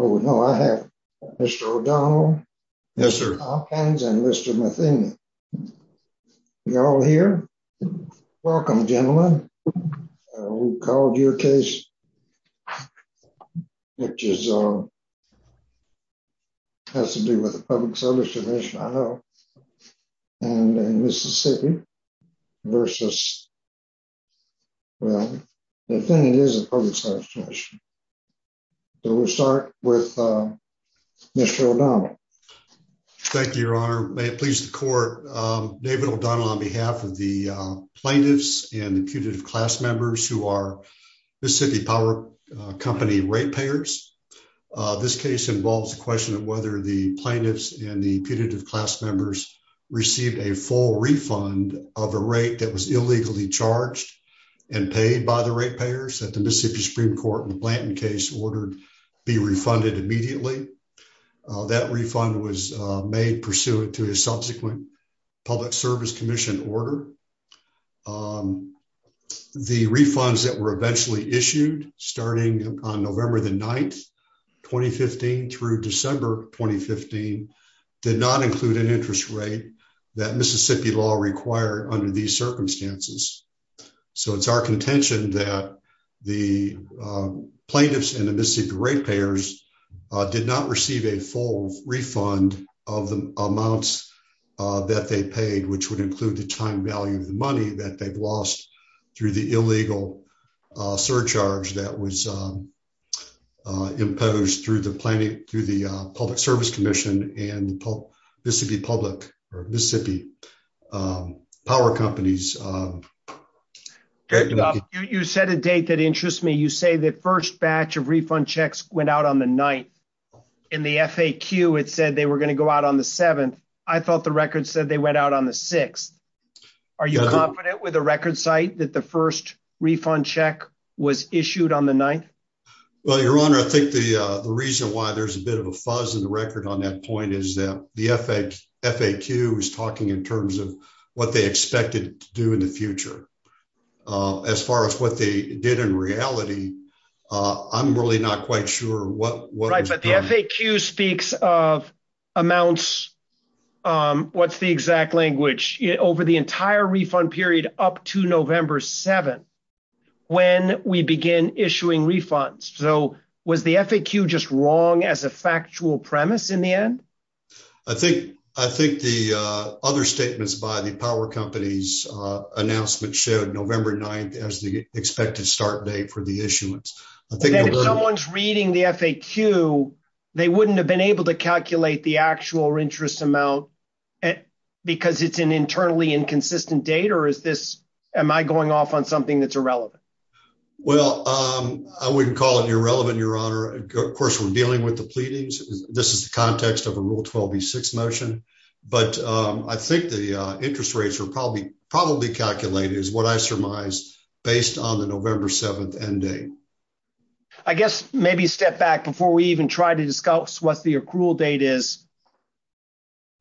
Oh, no, I have Mr. O'Donnell. Yes, sir. Hopkins and Mr. Matheny. You're all here. Welcome, gentlemen. We've called your case, which has to do with the Public Service Commission, I know, and in Mississippi versus, well, the defendant is a public service commission. So we'll start with Mr. O'Donnell. Thank you, your honor. May it please the court. David O'Donnell on behalf of the plaintiffs and the putative class members who are Mississippi Power Company rate payers. This case involves the question of whether the plaintiffs and the putative class members received a full refund of a rate that was illegally charged and paid by the rate payers that the Mississippi Supreme Court in the Blanton case ordered be refunded immediately. That refund was made pursuant to his subsequent Public Service Commission order. The refunds that were eventually issued starting on November the 9th, 2015 through December 2015 did not include an interest rate that Mississippi law required under these circumstances. So it's our contention that the plaintiffs and the Mississippi rate payers did not receive a full refund of the amounts that they paid, which would include the time value of the money that they've lost through the illegal surcharge that was imposed through the Public Service Commission and the Mississippi Power Companies. You set a date that interests me. You say the first batch of refund checks went out on the 9th. In the FAQ it said they were going to go out on the 7th. I thought the record said they went out on the 6th. Are you confident with the record site that the first refund check was issued on the 9th? Well, Your Honor, I think the reason why there's a bit of a fuzz in the record on that point is that the FAQ is talking in terms of what they expected to do in the future. As far as what they did in reality, I'm really not quite sure what was done. Right, but the FAQ speaks of amounts, what's the exact language, over the entire refund period up to November 7th we begin issuing refunds. So was the FAQ just wrong as a factual premise in the end? I think the other statements by the Power Companies announcement showed November 9th as the expected start date for the issuance. If someone's reading the FAQ, they wouldn't have been able to calculate the actual interest amount because it's an internally inconsistent date. Or am I going off on something that's irrelevant? Well, I wouldn't call it irrelevant, Your Honor. Of course, we're dealing with the pleadings. This is the context of a Rule 12b6 motion. But I think the interest rates are probably calculated, is what I surmise, based on the November 7th end date. I guess maybe a step back before we even try to discuss what the accrual date is.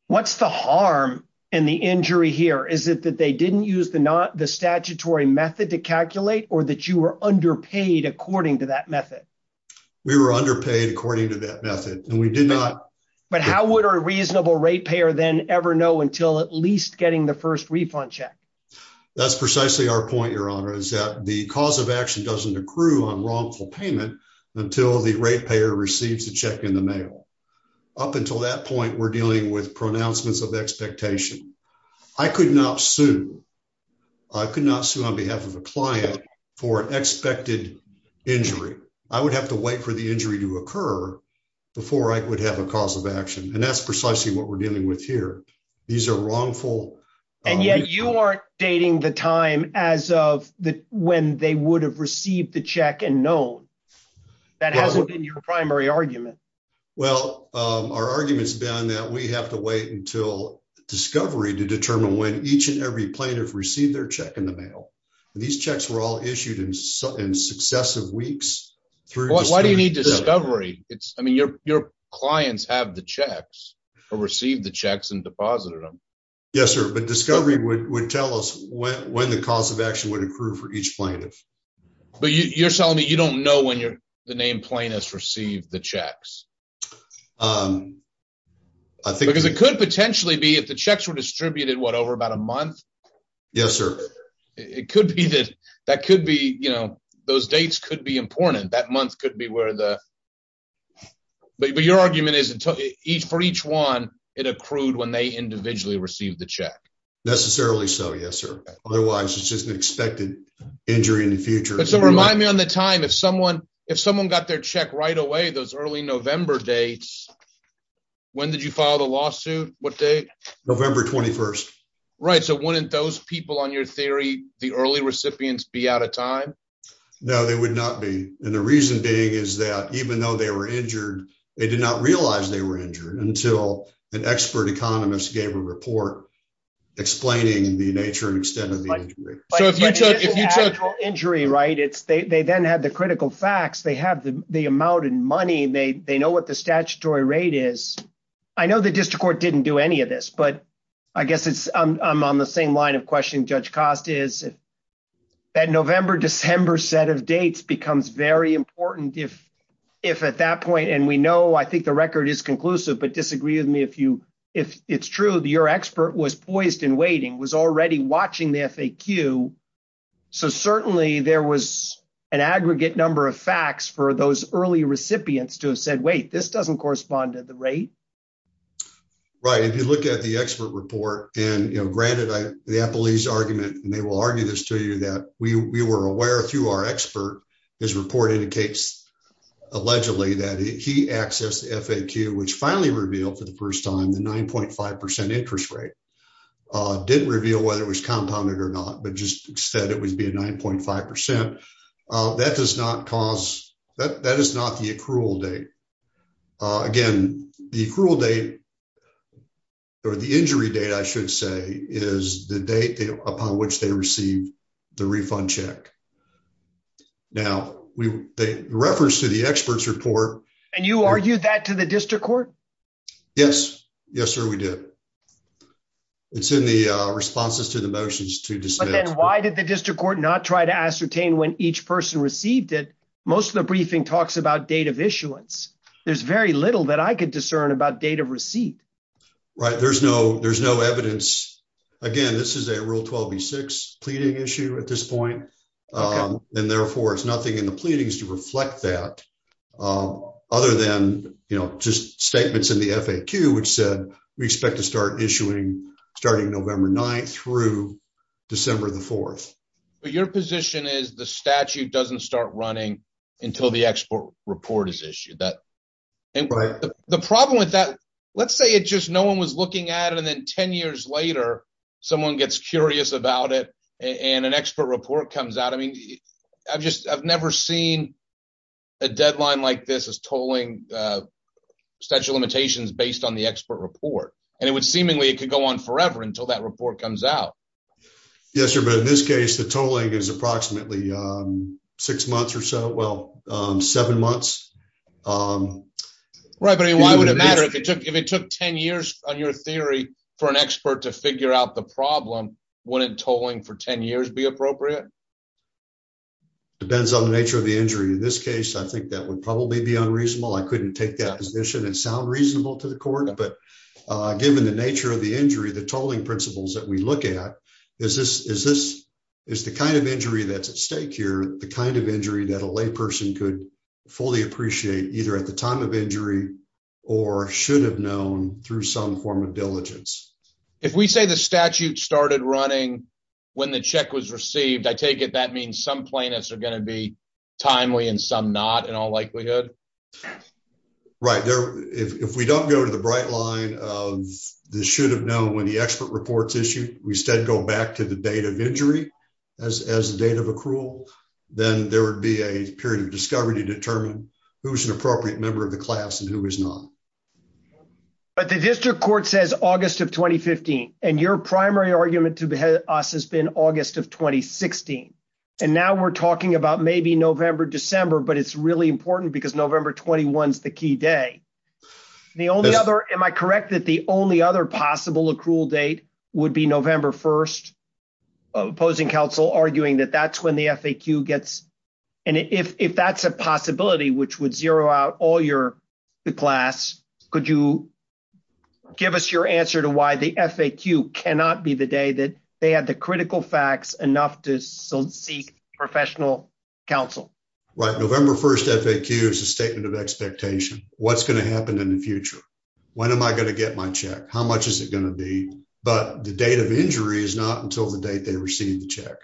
What's the harm in the injury here? Is it that they didn't use the statutory method to calculate or that you were underpaid according to that method? We were underpaid according to that method and we did not. But how would a reasonable rate payer then ever know until at least getting the first refund check? That's precisely our point, Your Honor, is that the cause of action doesn't accrue on wrongful payment until the rate payer receives the check in the mail. Up until that point, we're dealing with pronouncements of expectation. I could not sue. I could not sue on behalf of a client for an expected injury. I would have to wait for the injury to occur before I would have a cause of action. And that's precisely what we're dealing with here. These are wrongful... And yet you aren't dating the time as of when they would have received the check and known. That hasn't been your primary argument. Well, our argument's been that we have to wait until discovery to determine when each and every plaintiff received their check in the mail. These checks were all issued in successive weeks. Why do you need discovery? I mean, your clients have the checks or received the checks and deposited them. Yes, sir. But discovery would tell us when the cause of action would accrue for each plaintiff. But you're telling me you don't know when the named plaintiffs received the checks? I think... Because it could potentially be if the checks were distributed, what, over about a month? Yes, sir. It could be that those dates could be important. That month could be where the... But your argument is for each one, it accrued when they individually received the check. Necessarily so. Yes, sir. Otherwise, it's just an expected injury in the future. But so remind me on the time, if someone got their check right away, those early November dates, when did you file the lawsuit? What date? November 21st. Right. So wouldn't those people on your theory, the early recipients be out of time? No, they would not be. And the reason being is that even though they were injured, they did not realize they were injured until an expert economist gave a report explaining the nature and extent of the injury. So if you took... But it's an actual injury, right? They then had the critical facts. They have the amount and money. They know what the statutory rate is. I know the district court didn't do any of this, but I guess I'm on the same line of questioning Judge Cost is. That November, December set of dates becomes very important if at that point, and we know, I think the record is conclusive, but disagree with me if you, if it's true that your expert was poised and waiting, was already watching the FAQ. So certainly there was an aggregate number of facts for those early recipients to have said, wait, this doesn't correspond to the rate. Right. If you look at the expert report and, you know, granted, the appellees argument, and they will argue this to you that we were aware through our expert, his report indicates allegedly that he accessed the FAQ, which finally revealed for the first time, the 9.5% interest rate. Didn't reveal whether it was compounded or not, but just said it would be a 9.5%. That does not cause, that is not the accrual date. Again, the accrual date or the injury date, I should say, is the date upon which they received the refund check. Now we, the reference to the expert's report. And you argued that to the district court? Yes. Yes, sir. We did. It's in the responses to the motions. But then why did the district court not try to ascertain when each person received it? Most of the briefing talks about date of issuance. There's very little that I could discern about date of receipt. Right. There's no, there's no evidence. Again, this is a rule 12B6 pleading issue at this point. And therefore it's nothing in the pleadings to reflect that other than, you know, just statements in the FAQ, which said we expect to start issuing starting November 9th through December the 4th. But your position is the statute doesn't start running until the export report is issued. The problem with that, let's say it just, no one was looking at it. And then 10 I've just, I've never seen a deadline like this as tolling statute limitations based on the expert report. And it would seemingly, it could go on forever until that report comes out. Yes, sir. But in this case, the tolling is approximately six months or so. Well, seven months. Right. But I mean, why would it matter if it took, if it took 10 years on your theory for an expert to figure out the problem, wouldn't tolling for 10 years be appropriate? Depends on the nature of the injury. In this case, I think that would probably be unreasonable. I couldn't take that position and sound reasonable to the court, but given the nature of the injury, the tolling principles that we look at, is this, is this, is the kind of injury that's at stake here, the kind of injury that a lay person could fully appreciate either at the time of injury or should have known through some form of diligence. If we say the statute started running when the check was received, I take it, that means some plaintiffs are going to be timely and some not in all likelihood. Right there. If we don't go to the bright line of the should have known when the expert reports issue, we instead go back to the date of injury as, as the date of accrual, then there would be a period of discovery to determine who's an appropriate member of the class and who is not. But the district court says August of 2015, and your primary argument to us has been August of 2016. And now we're talking about maybe November, December, but it's really important because November 21 is the key day. The only other, am I correct that the only other possible accrual date would be November 1st? Opposing counsel arguing that that's when the FAQ gets, and if that's a possibility, which would zero out all your class, could you give us your answer to why the FAQ cannot be the day that they had the critical facts enough to seek professional counsel. Right. November 1st FAQ is a statement of expectation. What's going to happen in the future? When am I going to get my check? How much is it going to be? But the date of injury is not until the date they received the check.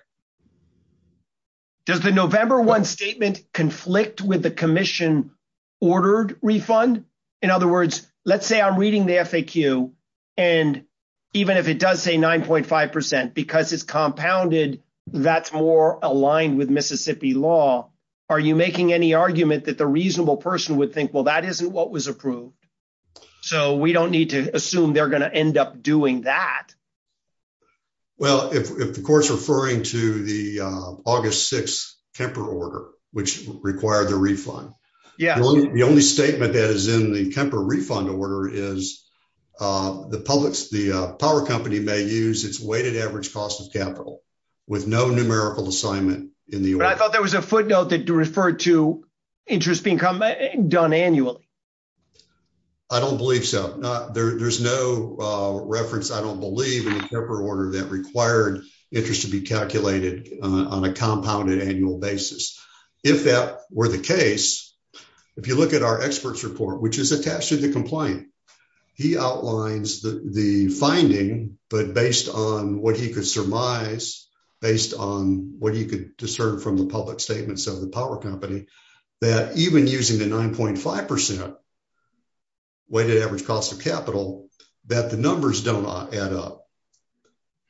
Does the November 1 statement conflict with the commission ordered refund? In other words, let's say I'm reading the FAQ. And even if it does say 9.5%, because it's compounded, that's more aligned with Mississippi law. Are you making any argument that the reasonable person would think, well, that isn't what was approved. So we don't need to if the court's referring to the August 6 Kemper order, which required the refund. Yeah. The only statement that is in the Kemper refund order is the public's, the power company may use its weighted average cost of capital with no numerical assignment in the order. But I thought there was a footnote that referred to interest being done annually. I don't believe so. There's no reference, I don't believe, in the Kemper order that required interest to be calculated on a compounded annual basis. If that were the case, if you look at our expert's report, which is attached to the complaint, he outlines the finding, but based on what he could surmise, based on what he could discern from the public statements of the power company, that even using the 9.5% weighted average cost of capital, that the numbers don't add up.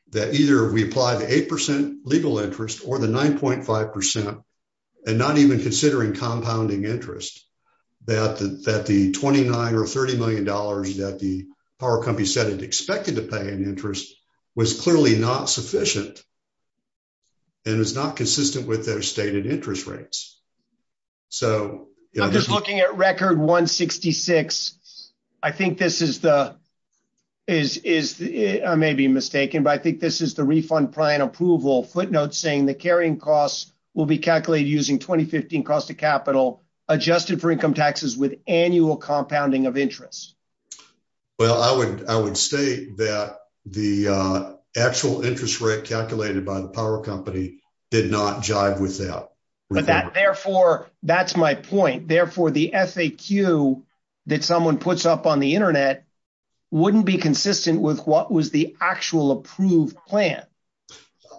That either we apply the 8% legal interest or the 9.5%, and not even considering compounding interest, that the 29 or $30 million that the power company said it expected to pay in interest was clearly not sufficient. And it's not consistent with their stated interest rates. I'm just looking at record 166. I think this is the, I may be mistaken, but I think this is the refund plan approval footnote saying the carrying costs will be calculated using 2015 cost of capital adjusted for income taxes with annual compounding of interest. Well, I would state that the actual interest rate calculated by the power company did not jive with that. But that, therefore, that's my point. Therefore, the FAQ that someone puts up on the internet wouldn't be consistent with what was the actual approved plan.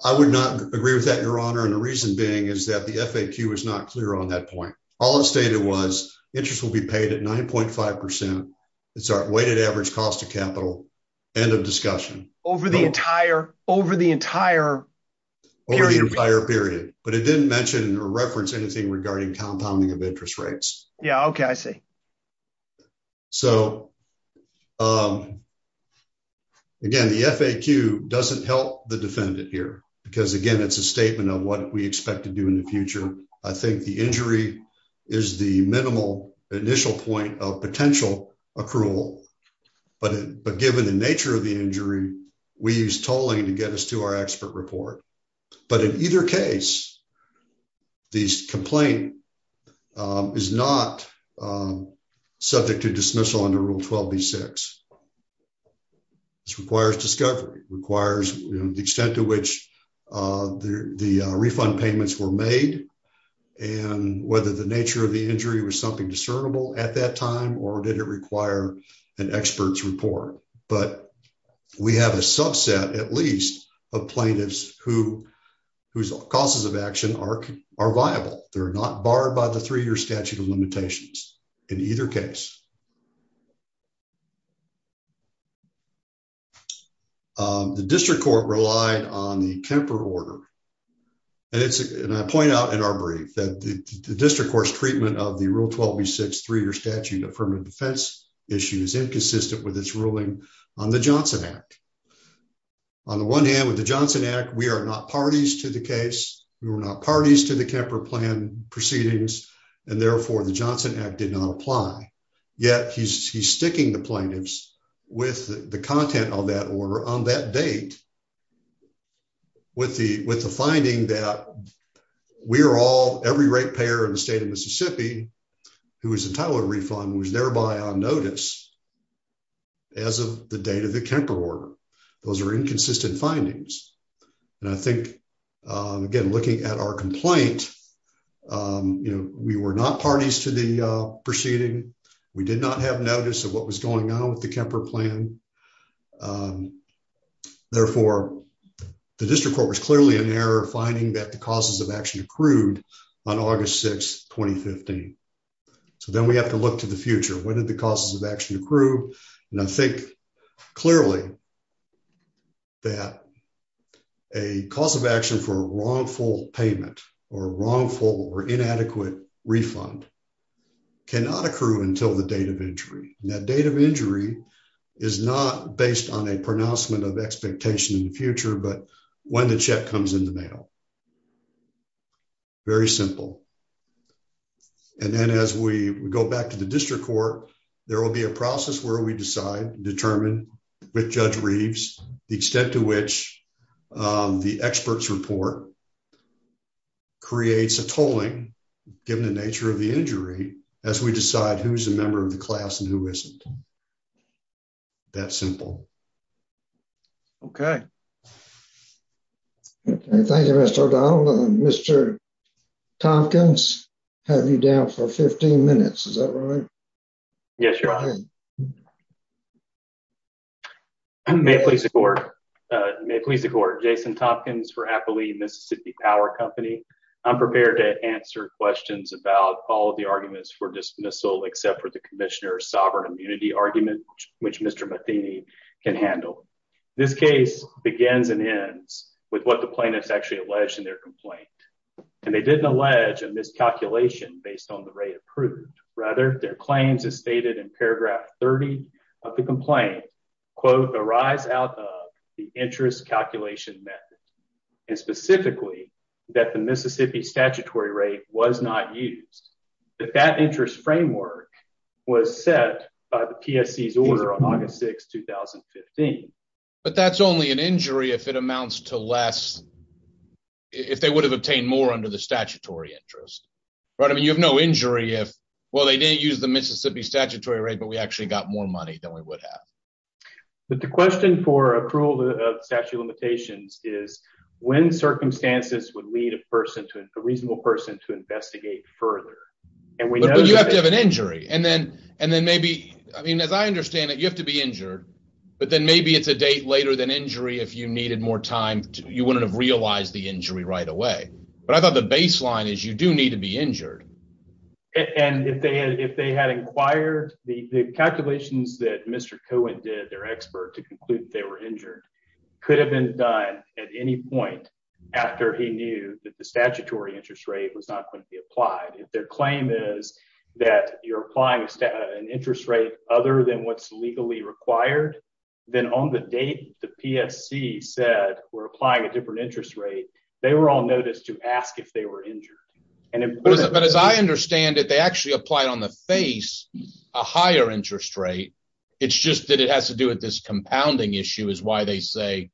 I would not agree with that, your honor. And the reason being is that the FAQ is not clear on that point. All it stated was interest will be paid at 9.5%. It's our weighted average cost of capital. End of discussion. Over the entire period. But it didn't mention or reference anything regarding compounding of interest rates. Yeah. Okay. I see. So, again, the FAQ doesn't help the defendant here because, again, it's a statement of what we expect to do in the future. I think the injury is the minimal initial point of potential accrual. But given the nature of the injury, we use tolling to get us to our expert report. But in either case, this complaint is not subject to dismissal under Rule 12B6. This requires discovery, requires the extent to which the refund payments were made, and whether the nature of the injury was something discernible at that time or did it require an expert's report. But we have a subset, at least, of plaintiffs whose causes of action are viable. They're not barred by the three-year statute of limitations in either case. The district court relied on the Kemper order. And I point out in our brief that the district court's treatment of the Rule 12B6 three-year statute affirmative defense issue is inconsistent with its ruling on the Johnson Act. On the one hand, with the Johnson Act, we are not parties to the case. We were not parties to the Kemper plan proceedings. And therefore, the Johnson Act did not apply. Yet, he's sticking the plaintiffs with the content of that order on that date with the finding that we are all, every rate payer in the state of Mississippi who is entitled to a refund was thereby on notice as of the date of the Kemper order. Those are inconsistent findings. And I think, again, looking at our complaint, we were not parties to the proceeding. We did not have notice of what was going on with the Kemper plan. Therefore, the district court was clearly in error finding that the causes of action accrued on August 6, 2015. So then we have to look to the future. When did the causes of action occur? That a cause of action for a wrongful payment or wrongful or inadequate refund cannot accrue until the date of injury. And that date of injury is not based on a pronouncement of expectation in the future, but when the check comes in the mail. Very simple. And then as we go back to the district court, there will be a process where we decide, determine with Judge Reeves, the extent to which the expert's report creates a tolling, given the nature of the injury, as we decide who's a member of the class and who isn't. That simple. Okay. Thank you, Mr. O'Donnell. Mr. Tompkins had you down for 15 minutes. Is that right? Yes, Your Honor. May it please the court. May it please the court. Jason Tompkins for Appalee Mississippi Power Company. I'm prepared to answer questions about all of the arguments for dismissal, except for the commissioner's sovereign immunity argument, which Mr. Matheny can handle. This case begins and ends with what the plaintiffs actually alleged in their complaint. And they didn't allege a miscalculation based on the rate approved. Rather, their claims as stated in paragraph 30 of the complaint, quote, arise out of the interest calculation method, and specifically that the Mississippi statutory rate was not used. But that interest framework was set by the PSC's order on August 6, 2015. But that's only an injury if it amounts to less, if they would have obtained more under the statutory interest. Right? I mean, you have no injury if, well, they didn't use the Mississippi statutory rate, but we actually got more money than we would have. But the question for accrual of statute of limitations is when circumstances would lead a person to a reasonable person to investigate further. And we know you have to have an injury. And then, and then maybe, I mean, as I understand it, you have to be injured. But then maybe it's a date later than injury. If you needed more time, you wouldn't have realized the injury right away. But I thought the baseline is you do need to be injured. And if they had, if they had inquired the calculations that Mr. Cohen did, their expert to conclude that they were injured could have been done at any point after he knew that the statutory interest rate was not going to be applied. If their claim is that you're applying an interest rate other than what's legally required, then on the date, the PSC said we're applying a different interest rate. They were all noticed to ask if they were injured. And as I understand it, they actually applied on the face, a higher interest rate. It's just that it has to do with this compounding issue is why they say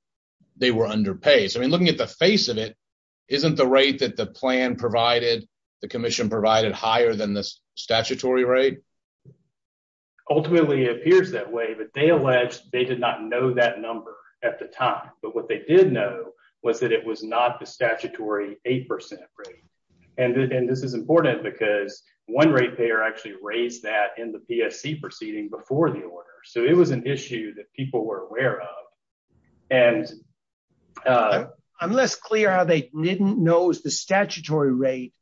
they were underpaid. So I mean, looking at the face of it, isn't the rate that the plan provided the commission provided higher than this statutory rate ultimately appears that way, but they alleged they did not know that number at the time. But what they did know was that it was not the statutory 8% rate. And this is important because one rate payer actually raised that in the PSC proceeding before the order. So it was an issue that people were aware of. And I'm less clear how they didn't know is the statutory rate,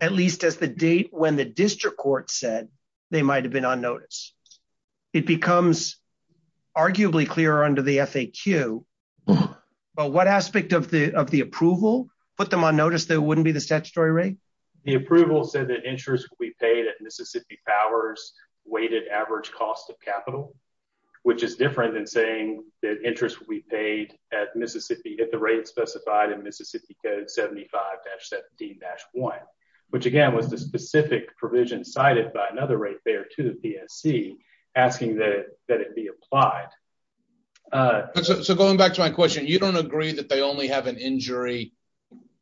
at least as the date when the district court said they might have been on notice. It becomes arguably clear under the FAQ. But what aspect of the of the approval put them on notice that wouldn't be the statutory rate? The approval said that interest will be paid at Mississippi Power's weighted average cost of capital, which is different than saying that interest will be paid at Mississippi at the rate specified in Mississippi Code 75-17-1, which again was the specific provision cited by another rate payer to the PSC asking that it be applied. So going back to my question, you don't agree that they only have an injury,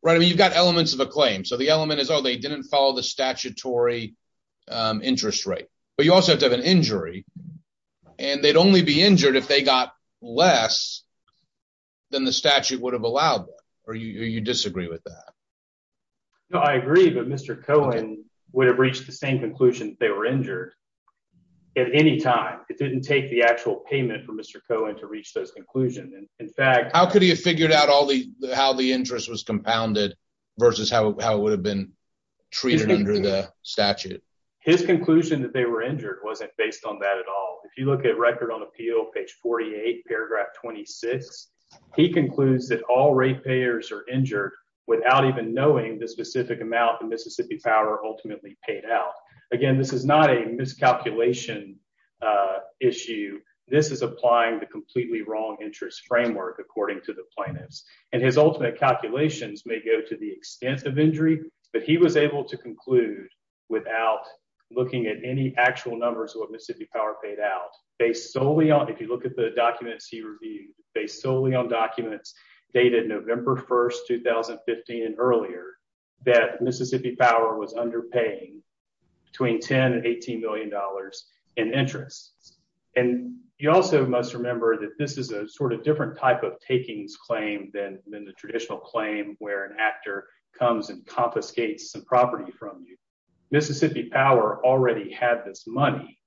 right? I mean, you've got elements of a claim. So the element is, oh, they didn't follow the statutory interest rate, but you also have to have an injury and they'd only be injured if they got less than the statute would have allowed them. Or you disagree with that? No, I agree. But Mr. Cohen would have reached the same conclusion they were injured at any time. It didn't take the actual payment for Mr. Cohen to reach those conclusions. In fact, how could he have figured out all the how the interest was compounded versus how it would have been treated under the statute? His conclusion that they were injured wasn't based on that at all. If you look at Record on Appeal, page 48, paragraph 26, he concludes that all rate payers are injured without even knowing the specific amount the Mississippi Power ultimately paid out. Again, this is not a miscalculation issue. This is applying the completely wrong interest framework, according to the plaintiffs. And his ultimate calculations may go to the actual numbers of what Mississippi Power paid out. Based solely on, if you look at the documents he reviewed, based solely on documents dated November 1st, 2015 and earlier, that Mississippi Power was underpaying between 10 and 18 million dollars in interest. And you also must remember that this is a sort of different type of takings claim than the traditional claim where an actor comes and confiscates some property from you. Mississippi Power already had this money,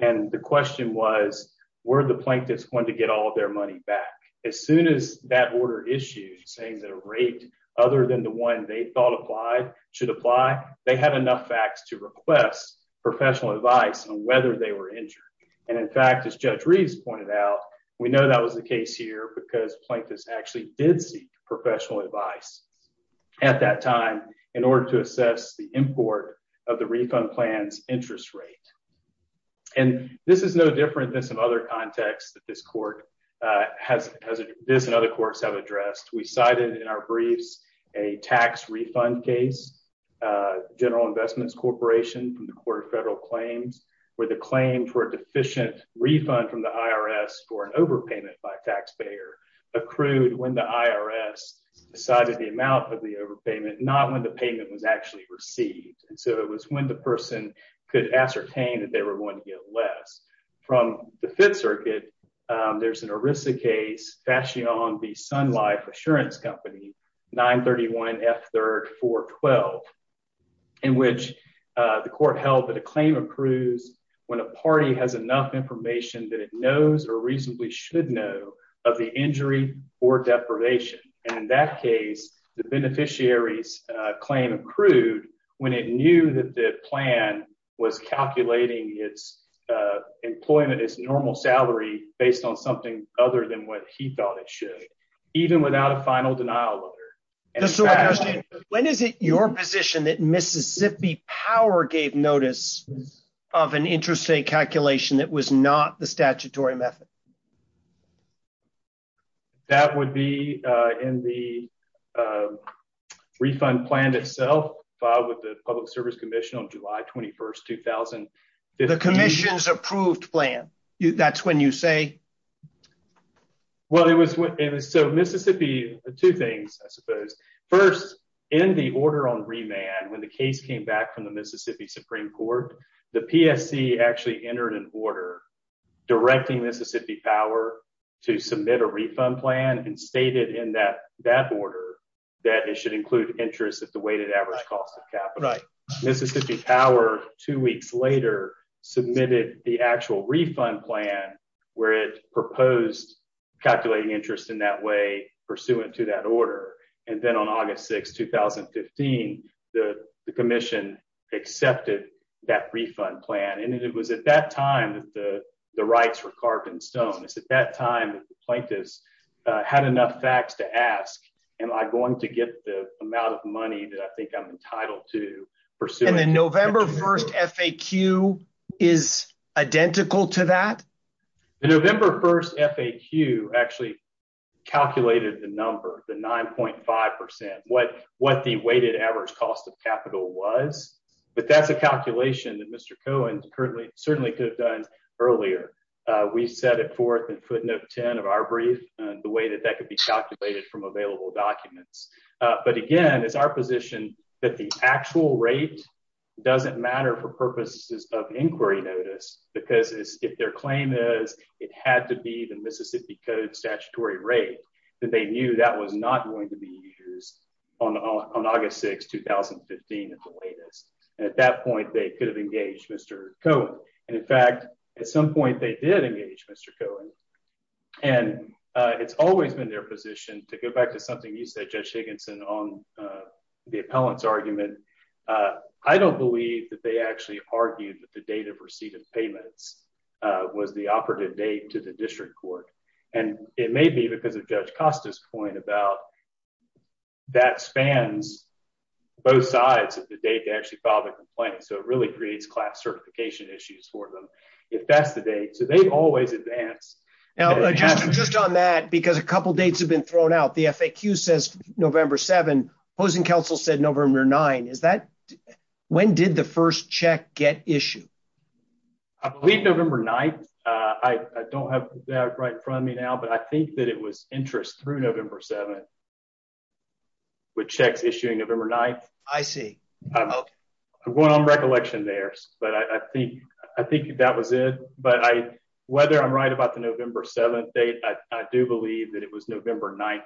and the question was, were the plaintiffs going to get all of their money back? As soon as that order issued saying that a rate other than the one they thought applied should apply, they had enough facts to request professional advice on whether they were injured. And in fact, as Judge Reeves pointed out, we know that was the case here because plaintiffs actually did seek professional advice at that time in order to assess the import of the refund plan's interest rate. And this is no different than some other contexts that this court has, this and other courts have addressed. We cited in our briefs a tax refund case, General Investments Corporation from the Court of Federal Claims, where the claim for a deficient refund from the IRS for an overpayment by a taxpayer accrued when the IRS decided the amount of the overpayment, not when the payment was actually received. And so it was when the person could ascertain that they were going to get less. From the Fifth Circuit, there's an ERISA case, Fashion v. Sun Life Assurance Company, 931 F. 3rd 412, in which the court held that a claim accrues when a party has enough information that it knows or reasonably should know of the injury or deprivation. And in that case, the beneficiary's claim accrued when it knew that the plan was calculating its employment, its normal salary based on something other than what he thought it should, even without a final denial letter. When is it your position that Mississippi Power gave notice of an interest rate calculation that was not the statutory method? That would be in the refund plan itself, filed with the Public Service Commission on July 21st, 2015. The commission's approved plan, that's when you say? Well, it was, so Mississippi, two things, I suppose. First, in the order on remand when the case came back from the Mississippi Supreme Court, the PSC actually entered an order directing Mississippi Power to submit a refund plan and stated in that order that it should include interest at the weighted average cost of capital. Mississippi Power, two weeks later, submitted the actual refund plan where it proposed calculating interest in that way pursuant to that order. And then on August 6th, 2015, the commission accepted that refund plan. And it was at that time that the rights were carved in stone. It's at that time that the plaintiffs had enough facts to ask, am I going to get the amount of money that I think I'm entitled to pursuing? And the November 1st FAQ is identical to that? The November 1st FAQ actually calculated the number, the 9.5%, what the weighted average cost of capital was. But that's a calculation that Mr. Cohen certainly could have done earlier. We set it forth in footnote 10 of our brief, the way that that could be calculated from available documents. But again, it's our position that the actual rate doesn't matter for purposes of inquiry notice because if their claim is it had to be the Mississippi Code rate, that they knew that was not going to be used on August 6th, 2015 at the latest. And at that point, they could have engaged Mr. Cohen. And in fact, at some point they did engage Mr. Cohen. And it's always been their position to go back to something you said, Judge Higginson, on the appellant's argument. I don't believe that they actually argued that the date of receipt of may be because of Judge Costa's point about that spans both sides of the date to actually file the complaint. So it really creates class certification issues for them if that's the date. So they've always advanced. Just on that, because a couple of dates have been thrown out. The FAQ says November 7, opposing counsel said November 9. When did the first check get issued? I believe November 9. I don't have that right in front of me now. But I think that it was interest through November 7 with checks issuing November 9. I see. I'm going on recollection there. But I think that was it. But whether I'm right about the November 7 date, I do believe that it was November 9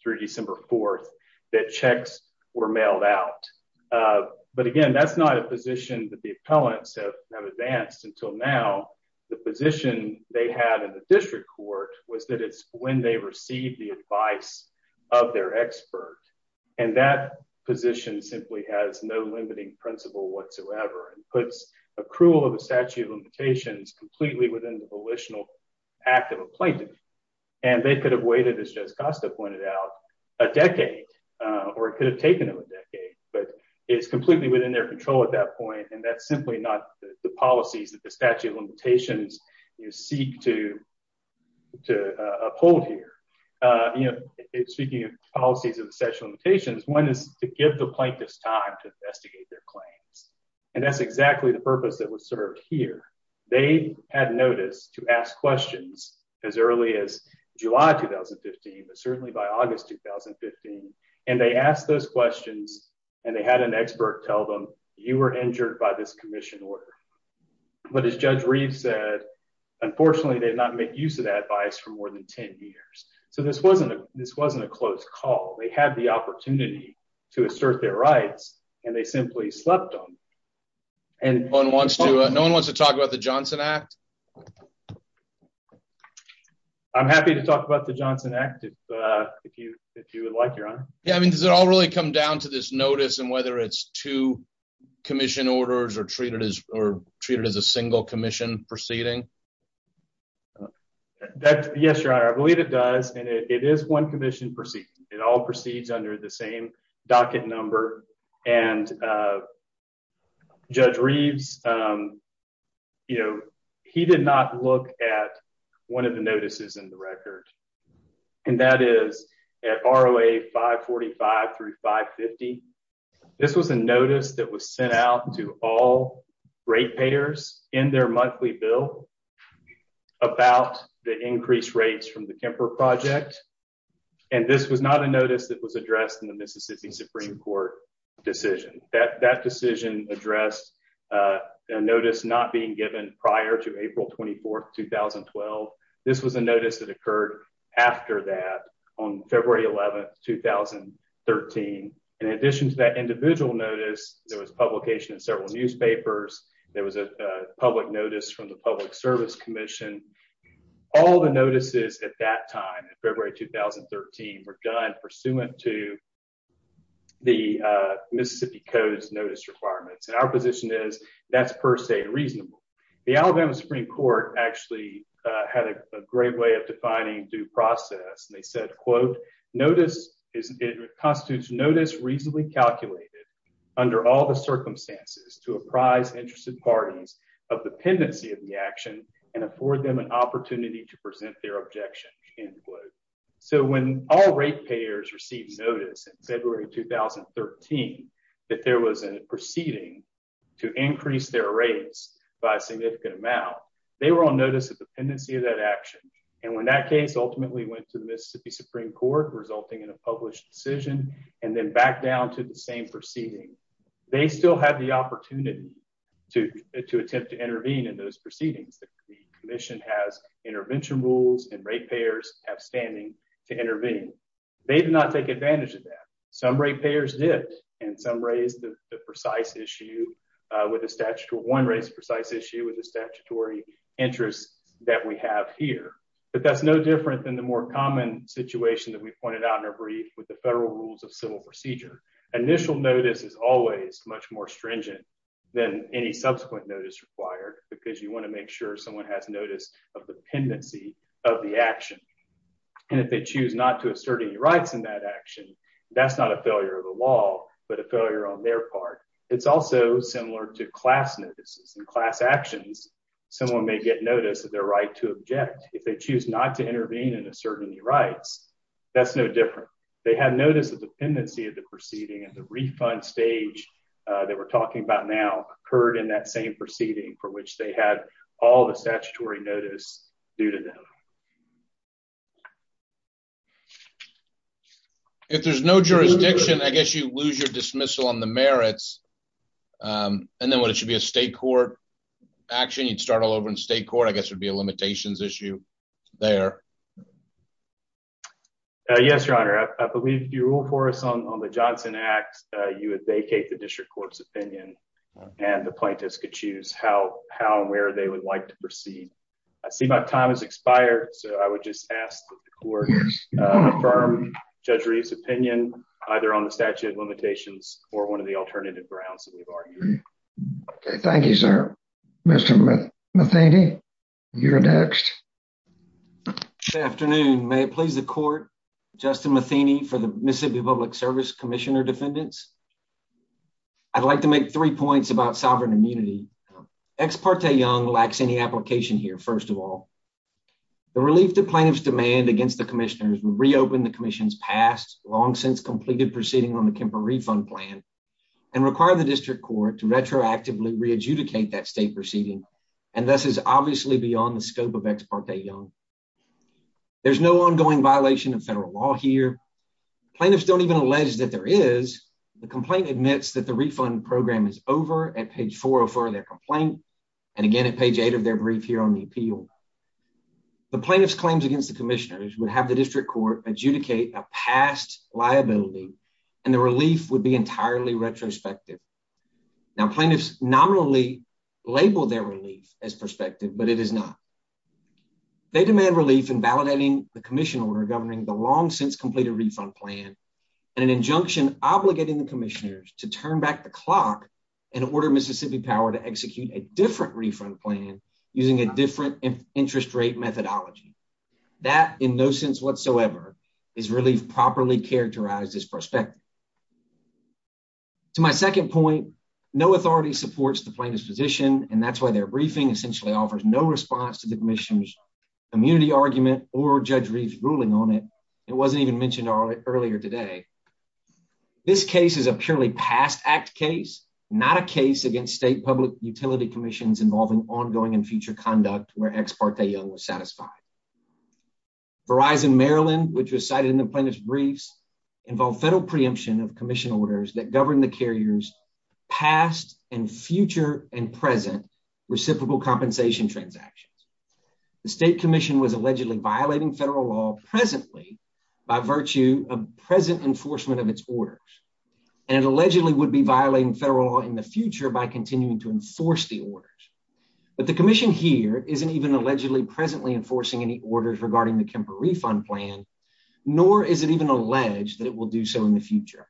through December 4 that checks were mailed out. But again, that's not a position that the appellants have advanced until now. The position they had in the district court was that it's when they receive the advice of their expert. And that position simply has no limiting principle whatsoever and puts accrual of a statute of limitations completely within the volitional act of a plaintiff. And they could have waited, as Judge Costa pointed out, a decade, or it could have taken them a decade. But it's completely within their control at that point. And that's simply not the policies that the statute of limitations seek to uphold here. Speaking of policies of the statute of limitations, one is to give the plaintiffs time to investigate their claims. And that's exactly the purpose that was served here. They had notice to ask questions as early as July 2015, but certainly by August 2015. And they asked those questions, and they had an expert tell them, you were injured by this commission order. But as Judge Reeves said, unfortunately, they did not make use of that advice for more than 10 years. So this wasn't a close call. They had the opportunity to assert their rights, and they simply slept on it. No one wants to talk about the Johnson Act? I'm happy to talk about the Johnson Act if you would like, Your Honor. Yeah, I mean, does it all really come down to this notice and whether it's two commission orders or treated as a single commission proceeding? Yes, Your Honor, I believe it does. And it is one commission proceeding. It all proceeds under the notices in the record. And that is at ROA 545 through 550. This was a notice that was sent out to all ratepayers in their monthly bill about the increased rates from the Kemper Project. And this was not a notice that was addressed in the Mississippi Supreme Court decision. That this was a notice that occurred after that on February 11, 2013. In addition to that individual notice, there was publication in several newspapers. There was a public notice from the Public Service Commission. All the notices at that time in February 2013 were done pursuant to the Mississippi Code's notice requirements. And our position is that's per se reasonable. The Alabama Supreme Court actually had a great way of defining due process. And they said, quote, notice is it constitutes notice reasonably calculated under all the circumstances to apprise interested parties of dependency of the action and afford them an opportunity to present their objection, end quote. So when all ratepayers received notice in February 2013, that there was a proceeding to increase their rates by a significant amount, they were on notice of dependency of that action. And when that case ultimately went to the Mississippi Supreme Court, resulting in a published decision, and then back down to the same proceeding, they still had the opportunity to attempt to intervene in those proceedings. The commission has intervention rules and ratepayers have standing to intervene. They did not take advantage of that. Some ratepayers did, and some raised the precise issue with a statutory interest that we have here. But that's no different than the more common situation that we pointed out in our brief with the federal rules of civil procedure. Initial notice is always much more stringent than any subsequent notice required because you want to make sure someone has notice of dependency of the action. And if they choose not to assert any rights in that action, that's not a failure of the law, but a failure on their part. It's also similar to class notices and class actions. Someone may get notice of their right to object if they choose not to intervene and assert any rights. That's no different. They had notice of dependency of the proceeding and the refund stage that we're talking about now occurred in that same proceeding for which they had all the statutory notice due to them. If there's no jurisdiction, I guess you lose your dismissal on the merits. And then when it should be a state court action, you'd start all over in state court, I guess would be a limitations issue there. Yes, your honor, I believe you rule for us on the Johnson Act, you would vacate the district court's opinion and the plaintiffs could choose how and where they would like to proceed. I see my time has expired, so I would just ask that the court affirm Judge Reeves' opinion either on the statute of limitations or one of the alternative grounds that we've argued. Okay, thank you, sir. Mr. Matheny, you're next. Good afternoon. May it please the court, Justin Matheny for the Mississippi Public Service Commissioner Defendants. I'd like to make three points about sovereign immunity. Ex parte Young lacks any application here, first of all. The relief to plaintiff's demand against the commissioners reopened the commission's past long since completed proceeding on the Kemper refund plan and require the district court to retroactively re-adjudicate that state proceeding, and this is obviously beyond the scope of ex parte Young. There's no ongoing violation of federal law here. Plaintiffs don't even allege that there is. The complaint admits that the refund program is over at page 404 of their complaint and again at page 8 of their brief here on the appeal. The plaintiff's claims against the commissioners would have the district court adjudicate a past liability and the relief would be entirely retrospective. Now, plaintiffs nominally label their relief as prospective, but it is not. They demand relief in validating the commission order governing the long since completed refund plan and an injunction obligating the commissioners to turn back the clock and order Mississippi Power to execute a different refund plan using a different interest rate methodology. That, in no sense whatsoever, is relief properly characterized as prospective. To my second point, no authority supports the plaintiff's position, and that's why their briefing essentially offers no response to commissioners' immunity argument or Judge Reif's ruling on it. It wasn't even mentioned earlier today. This case is a purely past act case, not a case against state public utility commissions involving ongoing and future conduct where ex parte Young was satisfied. Verizon Maryland, which was cited in the plaintiff's briefs, involved federal preemption of commission orders that govern the carriers' past and future and present reciprocal compensation transactions. The state commission was allegedly violating federal law presently by virtue of present enforcement of its orders, and it allegedly would be violating federal law in the future by continuing to enforce the orders. But the commission here isn't even allegedly presently enforcing any orders regarding the Kemper refund plan, nor is it even alleged that it will do so in the future.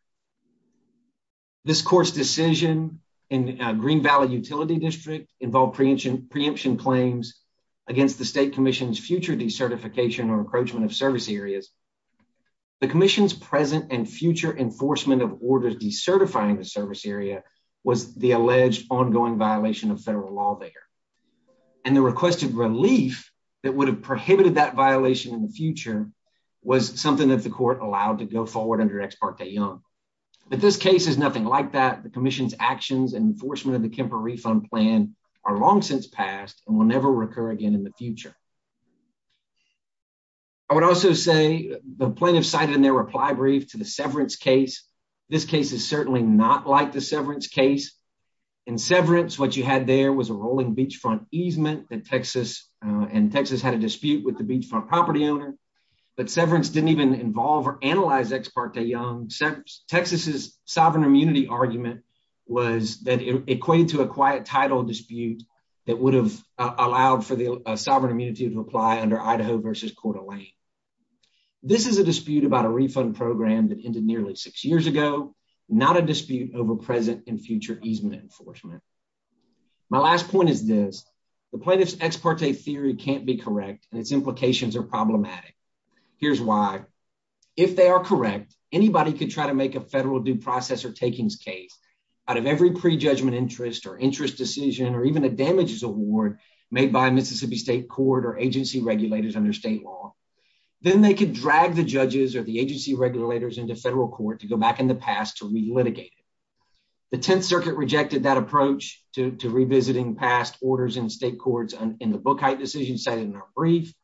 This court's decision in Green Valley Utility District involved preemption claims against the state commission's future decertification or encroachment of service areas. The commission's present and future enforcement of orders decertifying the service area was the alleged ongoing violation of federal law there, and the requested relief that would have prohibited that violation in the future was something that the court allowed to go forward under ex parte Young. But this case is nothing like that. The commission's actions and enforcement of the Kemper refund plan are long since past and will never recur again in the future. I would also say the plaintiff cited in their reply brief to the severance case, this case is certainly not like the severance case. In severance, what you had there was a rolling beachfront easement that Texas and Texas had a dispute with the beachfront property owner, but severance didn't even involve or analyze ex parte Young. Texas's sovereign immunity argument was that it equated to a quiet title dispute that would have allowed for the sovereign immunity to apply under Idaho versus Coeur d'Alene. This is a dispute about a refund program that ended nearly six years ago, not a dispute over present and future easement enforcement. My last point is this. The plaintiff's ex parte theory can't be correct, and its implications are problematic. Here's why. If they are correct, anybody could try to make a federal due process or takings case out of every prejudgment interest or interest decision or even a damages award made by Mississippi State Court or agency regulators under state law. Then they could drag the judges or the agency regulators into federal court to go back in the past to re-litigate it. The Tenth Circuit rejected that approach to revisiting past orders in state courts in the Bookheight decision cited in our brief.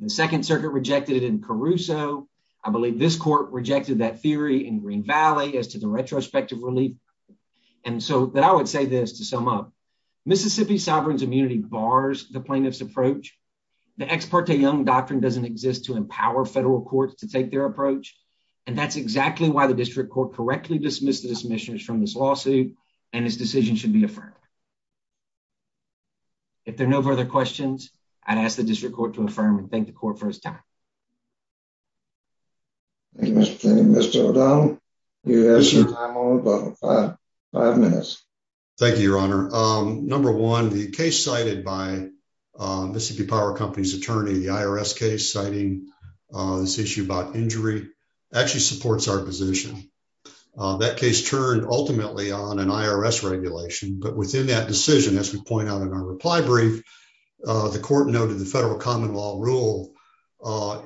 The Second Circuit rejected it in Caruso. I believe this court rejected that theory in Green Valley as to the retrospective relief. And so I would say this to sum up. Mississippi sovereign's immunity bars the plaintiff's approach. The ex parte Young doctrine doesn't exist to empower federal courts to take their approach. And that's exactly why the district court correctly dismissed the dismissions from this lawsuit and its decision should be affirmed. If there are no further questions, I'd ask the Thank you, Mr. O'Donnell. You have your time on about five minutes. Thank you, Your Honor. Number one, the case cited by Mississippi Power Company's attorney, the IRS case citing this issue about injury actually supports our position. That case turned ultimately on an IRS regulation. But within that decision, as we point out in our reply brief, the court noted the federal common law rule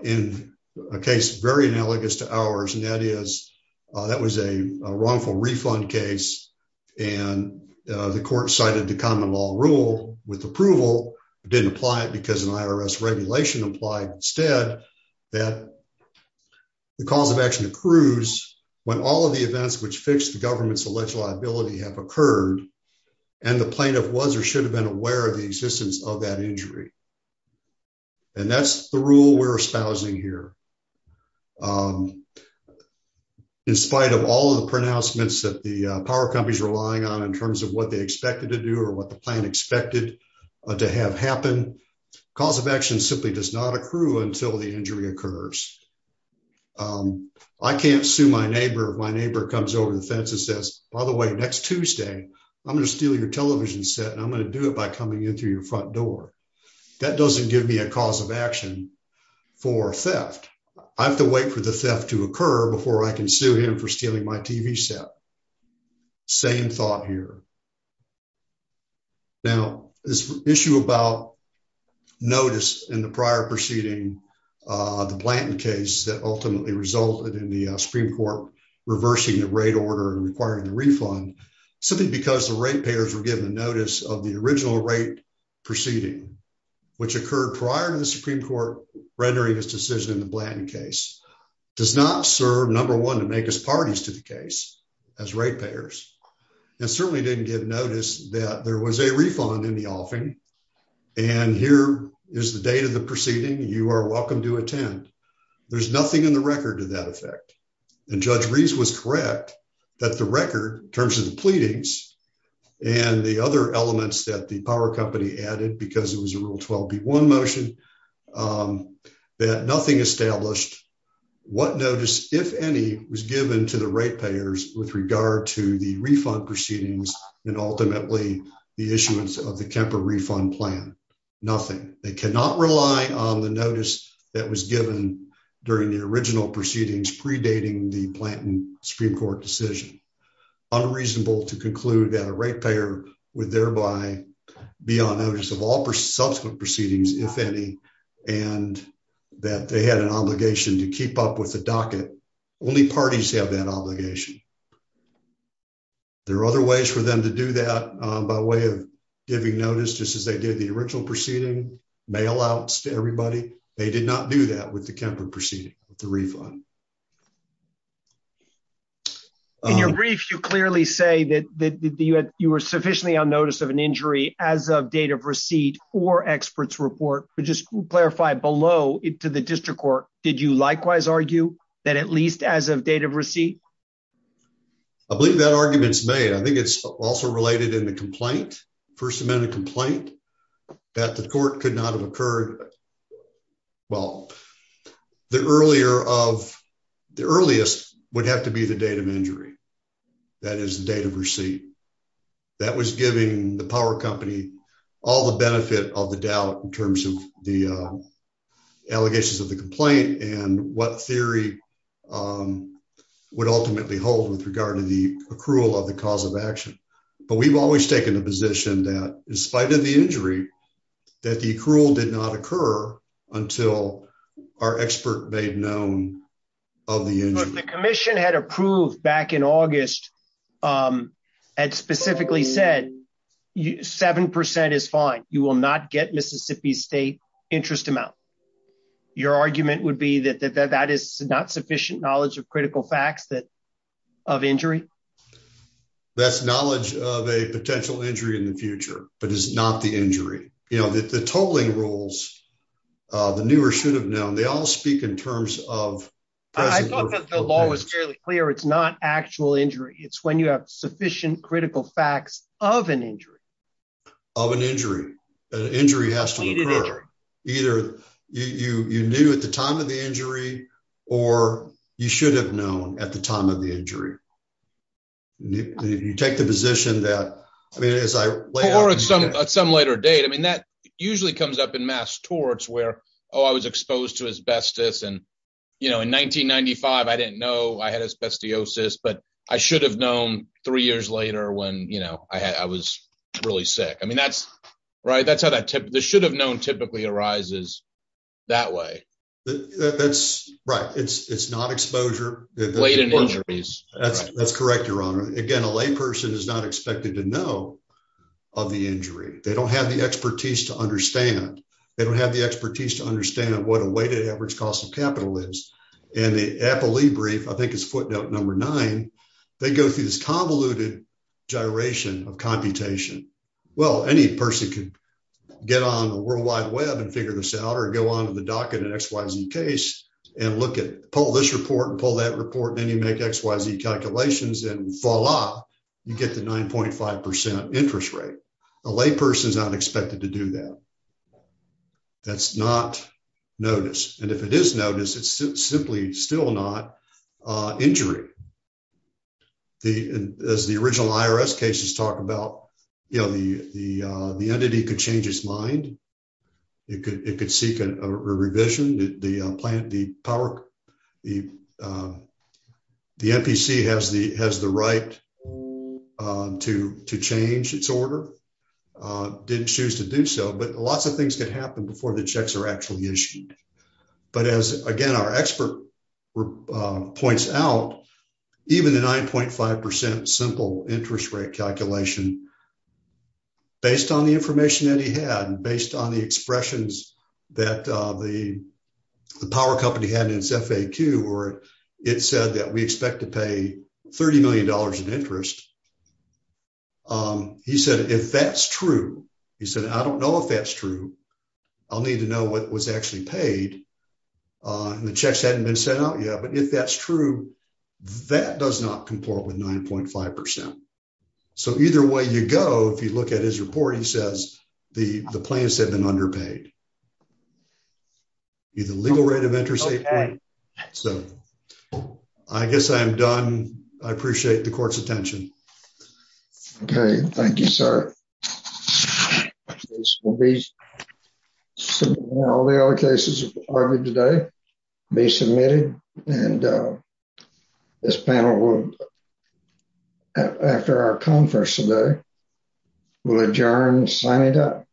in a case very analogous to ours. And that is, that was a wrongful refund case. And the court cited the common law rule with approval didn't apply it because an IRS regulation applied instead, that the cause of action accrues, when all of the events which fix the government's alleged liability have occurred. And the plaintiff was or should have been aware of the existence of that injury. And that's the rule we're espousing here. In spite of all of the pronouncements that the power companies relying on in terms of what they expected to do or what the plan expected to have happened, cause of action simply does not accrue until the injury occurs. I can't sue my neighbor, my neighbor comes over the fence and says, by the way, next Tuesday, I'm going to steal your television set and I'm going to do it by coming in through your front door. That doesn't give me a cause of action for theft. I have to wait for the theft to occur before I can sue him for stealing my TV set. Same thought here. Now, this issue about notice in the prior proceeding, the Blanton case that ultimately resulted in the Supreme Court reversing the rate order and requiring the refund, simply because the rate payers were given a notice of the original rate proceeding, which occurred prior to the Supreme Court rendering its decision in the Blanton case, does not serve, number one, to make us parties to the case as rate payers. And certainly didn't get notice that there was a refund in the offing. And here is the date of the proceeding. You are welcome to attend. There's nothing in the record to that effect. And Judge Reeves was correct that the record, in terms of the pleadings and the other elements that the power company added, because it was a Rule 12b1 motion, that nothing established what notice, if any, was given to the rate payers with regard to the refund proceedings and ultimately the issuance of the Kemper refund plan. Nothing. They cannot rely on the notice that was given during the original proceedings predating the Blanton Supreme Court decision. Unreasonable to conclude that a rate payer would thereby be on notice of all subsequent proceedings, if any, and that they had an obligation to keep up with the docket. Only parties have that obligation. There are other ways for them to do that by way of giving notice, just as they did the original proceeding, mail outs to everybody. They did not do that with the Kemper proceeding, with the refund. In your brief, you clearly say that you were sufficiently on notice of an injury as of date of receipt or expert's report. But just clarify below, to the district court, did you likewise argue that at least as of date of receipt? I believe that argument's made. I think it's also related in the complaint, First Amendment complaint, that the court could not have occurred, well, the earliest would have to be the date of injury. That is the date of receipt. That was giving the power company all the benefit of the doubt in terms of the allegations of the complaint and what theory would ultimately hold with regard to the accrual of the cause of action. But we've always taken the position that, in spite of the injury, that the accrual did not occur until our expert made known of the injury. But the commission had approved back in August and specifically said 7% is fine. You will not get Mississippi State interest amount. Your argument would be that that is not sufficient knowledge of critical facts of injury? That's knowledge of a potential injury in the future, but it's not the injury. You know, the totaling rules, the newer should have known, they all speak in terms of present- I thought that the law was fairly clear. It's not actual injury. It's when you have sufficient critical facts of an injury. Of an injury. An injury has to occur. Either you knew at the time of the injury or you should have known at the time of the injury. You take the position that, I mean, as I- Or at some later date. I mean, that usually comes up in mass torts where, oh, I was exposed to asbestos and, you know, in 1995, I didn't know I had asbestosis, but I should have known three years later when, you know, I was really sick. I mean, that's right. That's how that should have known typically arises that way. That's right. It's not exposure. That's correct, Your Honor. Again, a lay person is not expected to know of the injury. They don't have the expertise to understand. They don't have the expertise to understand what a weighted average cost of capital is. And the Eppley brief, I think it's number nine, they go through this convoluted gyration of computation. Well, any person could get on the World Wide Web and figure this out or go on to the docket in an XYZ case and look at- pull this report and pull that report and then you make XYZ calculations and voila, you get the 9.5% interest rate. A lay person is not expected to do that. That's not notice. And if it is notice, it's simply still not injury. The- as the original IRS cases talk about, you know, the entity could change his mind. It could seek a revision. The plant- the power- the NPC has the right to change its order. It didn't choose to do so, but lots of things could happen before the checks are actually issued. But as, again, our expert points out, even the 9.5% simple interest rate calculation, based on the information that he had and based on the expressions that the power company had in its FAQ where it said that we expect to pay $30 million in interest, he said, if that's true, he said, I don't know if that's true. I'll need to know what was actually paid. And the checks hadn't been sent out yet, but if that's true, that does not comport with 9.5%. So either way you go, if you look at his report, he says the plans have been underpaid. Either legal rate of interest. So I guess I'm done. I appreciate the court's attention. Okay. Thank you, sir. We'll be submitting all the other cases we've argued today, be submitted, and this panel will, after our conference today, will adjourn and sign it up.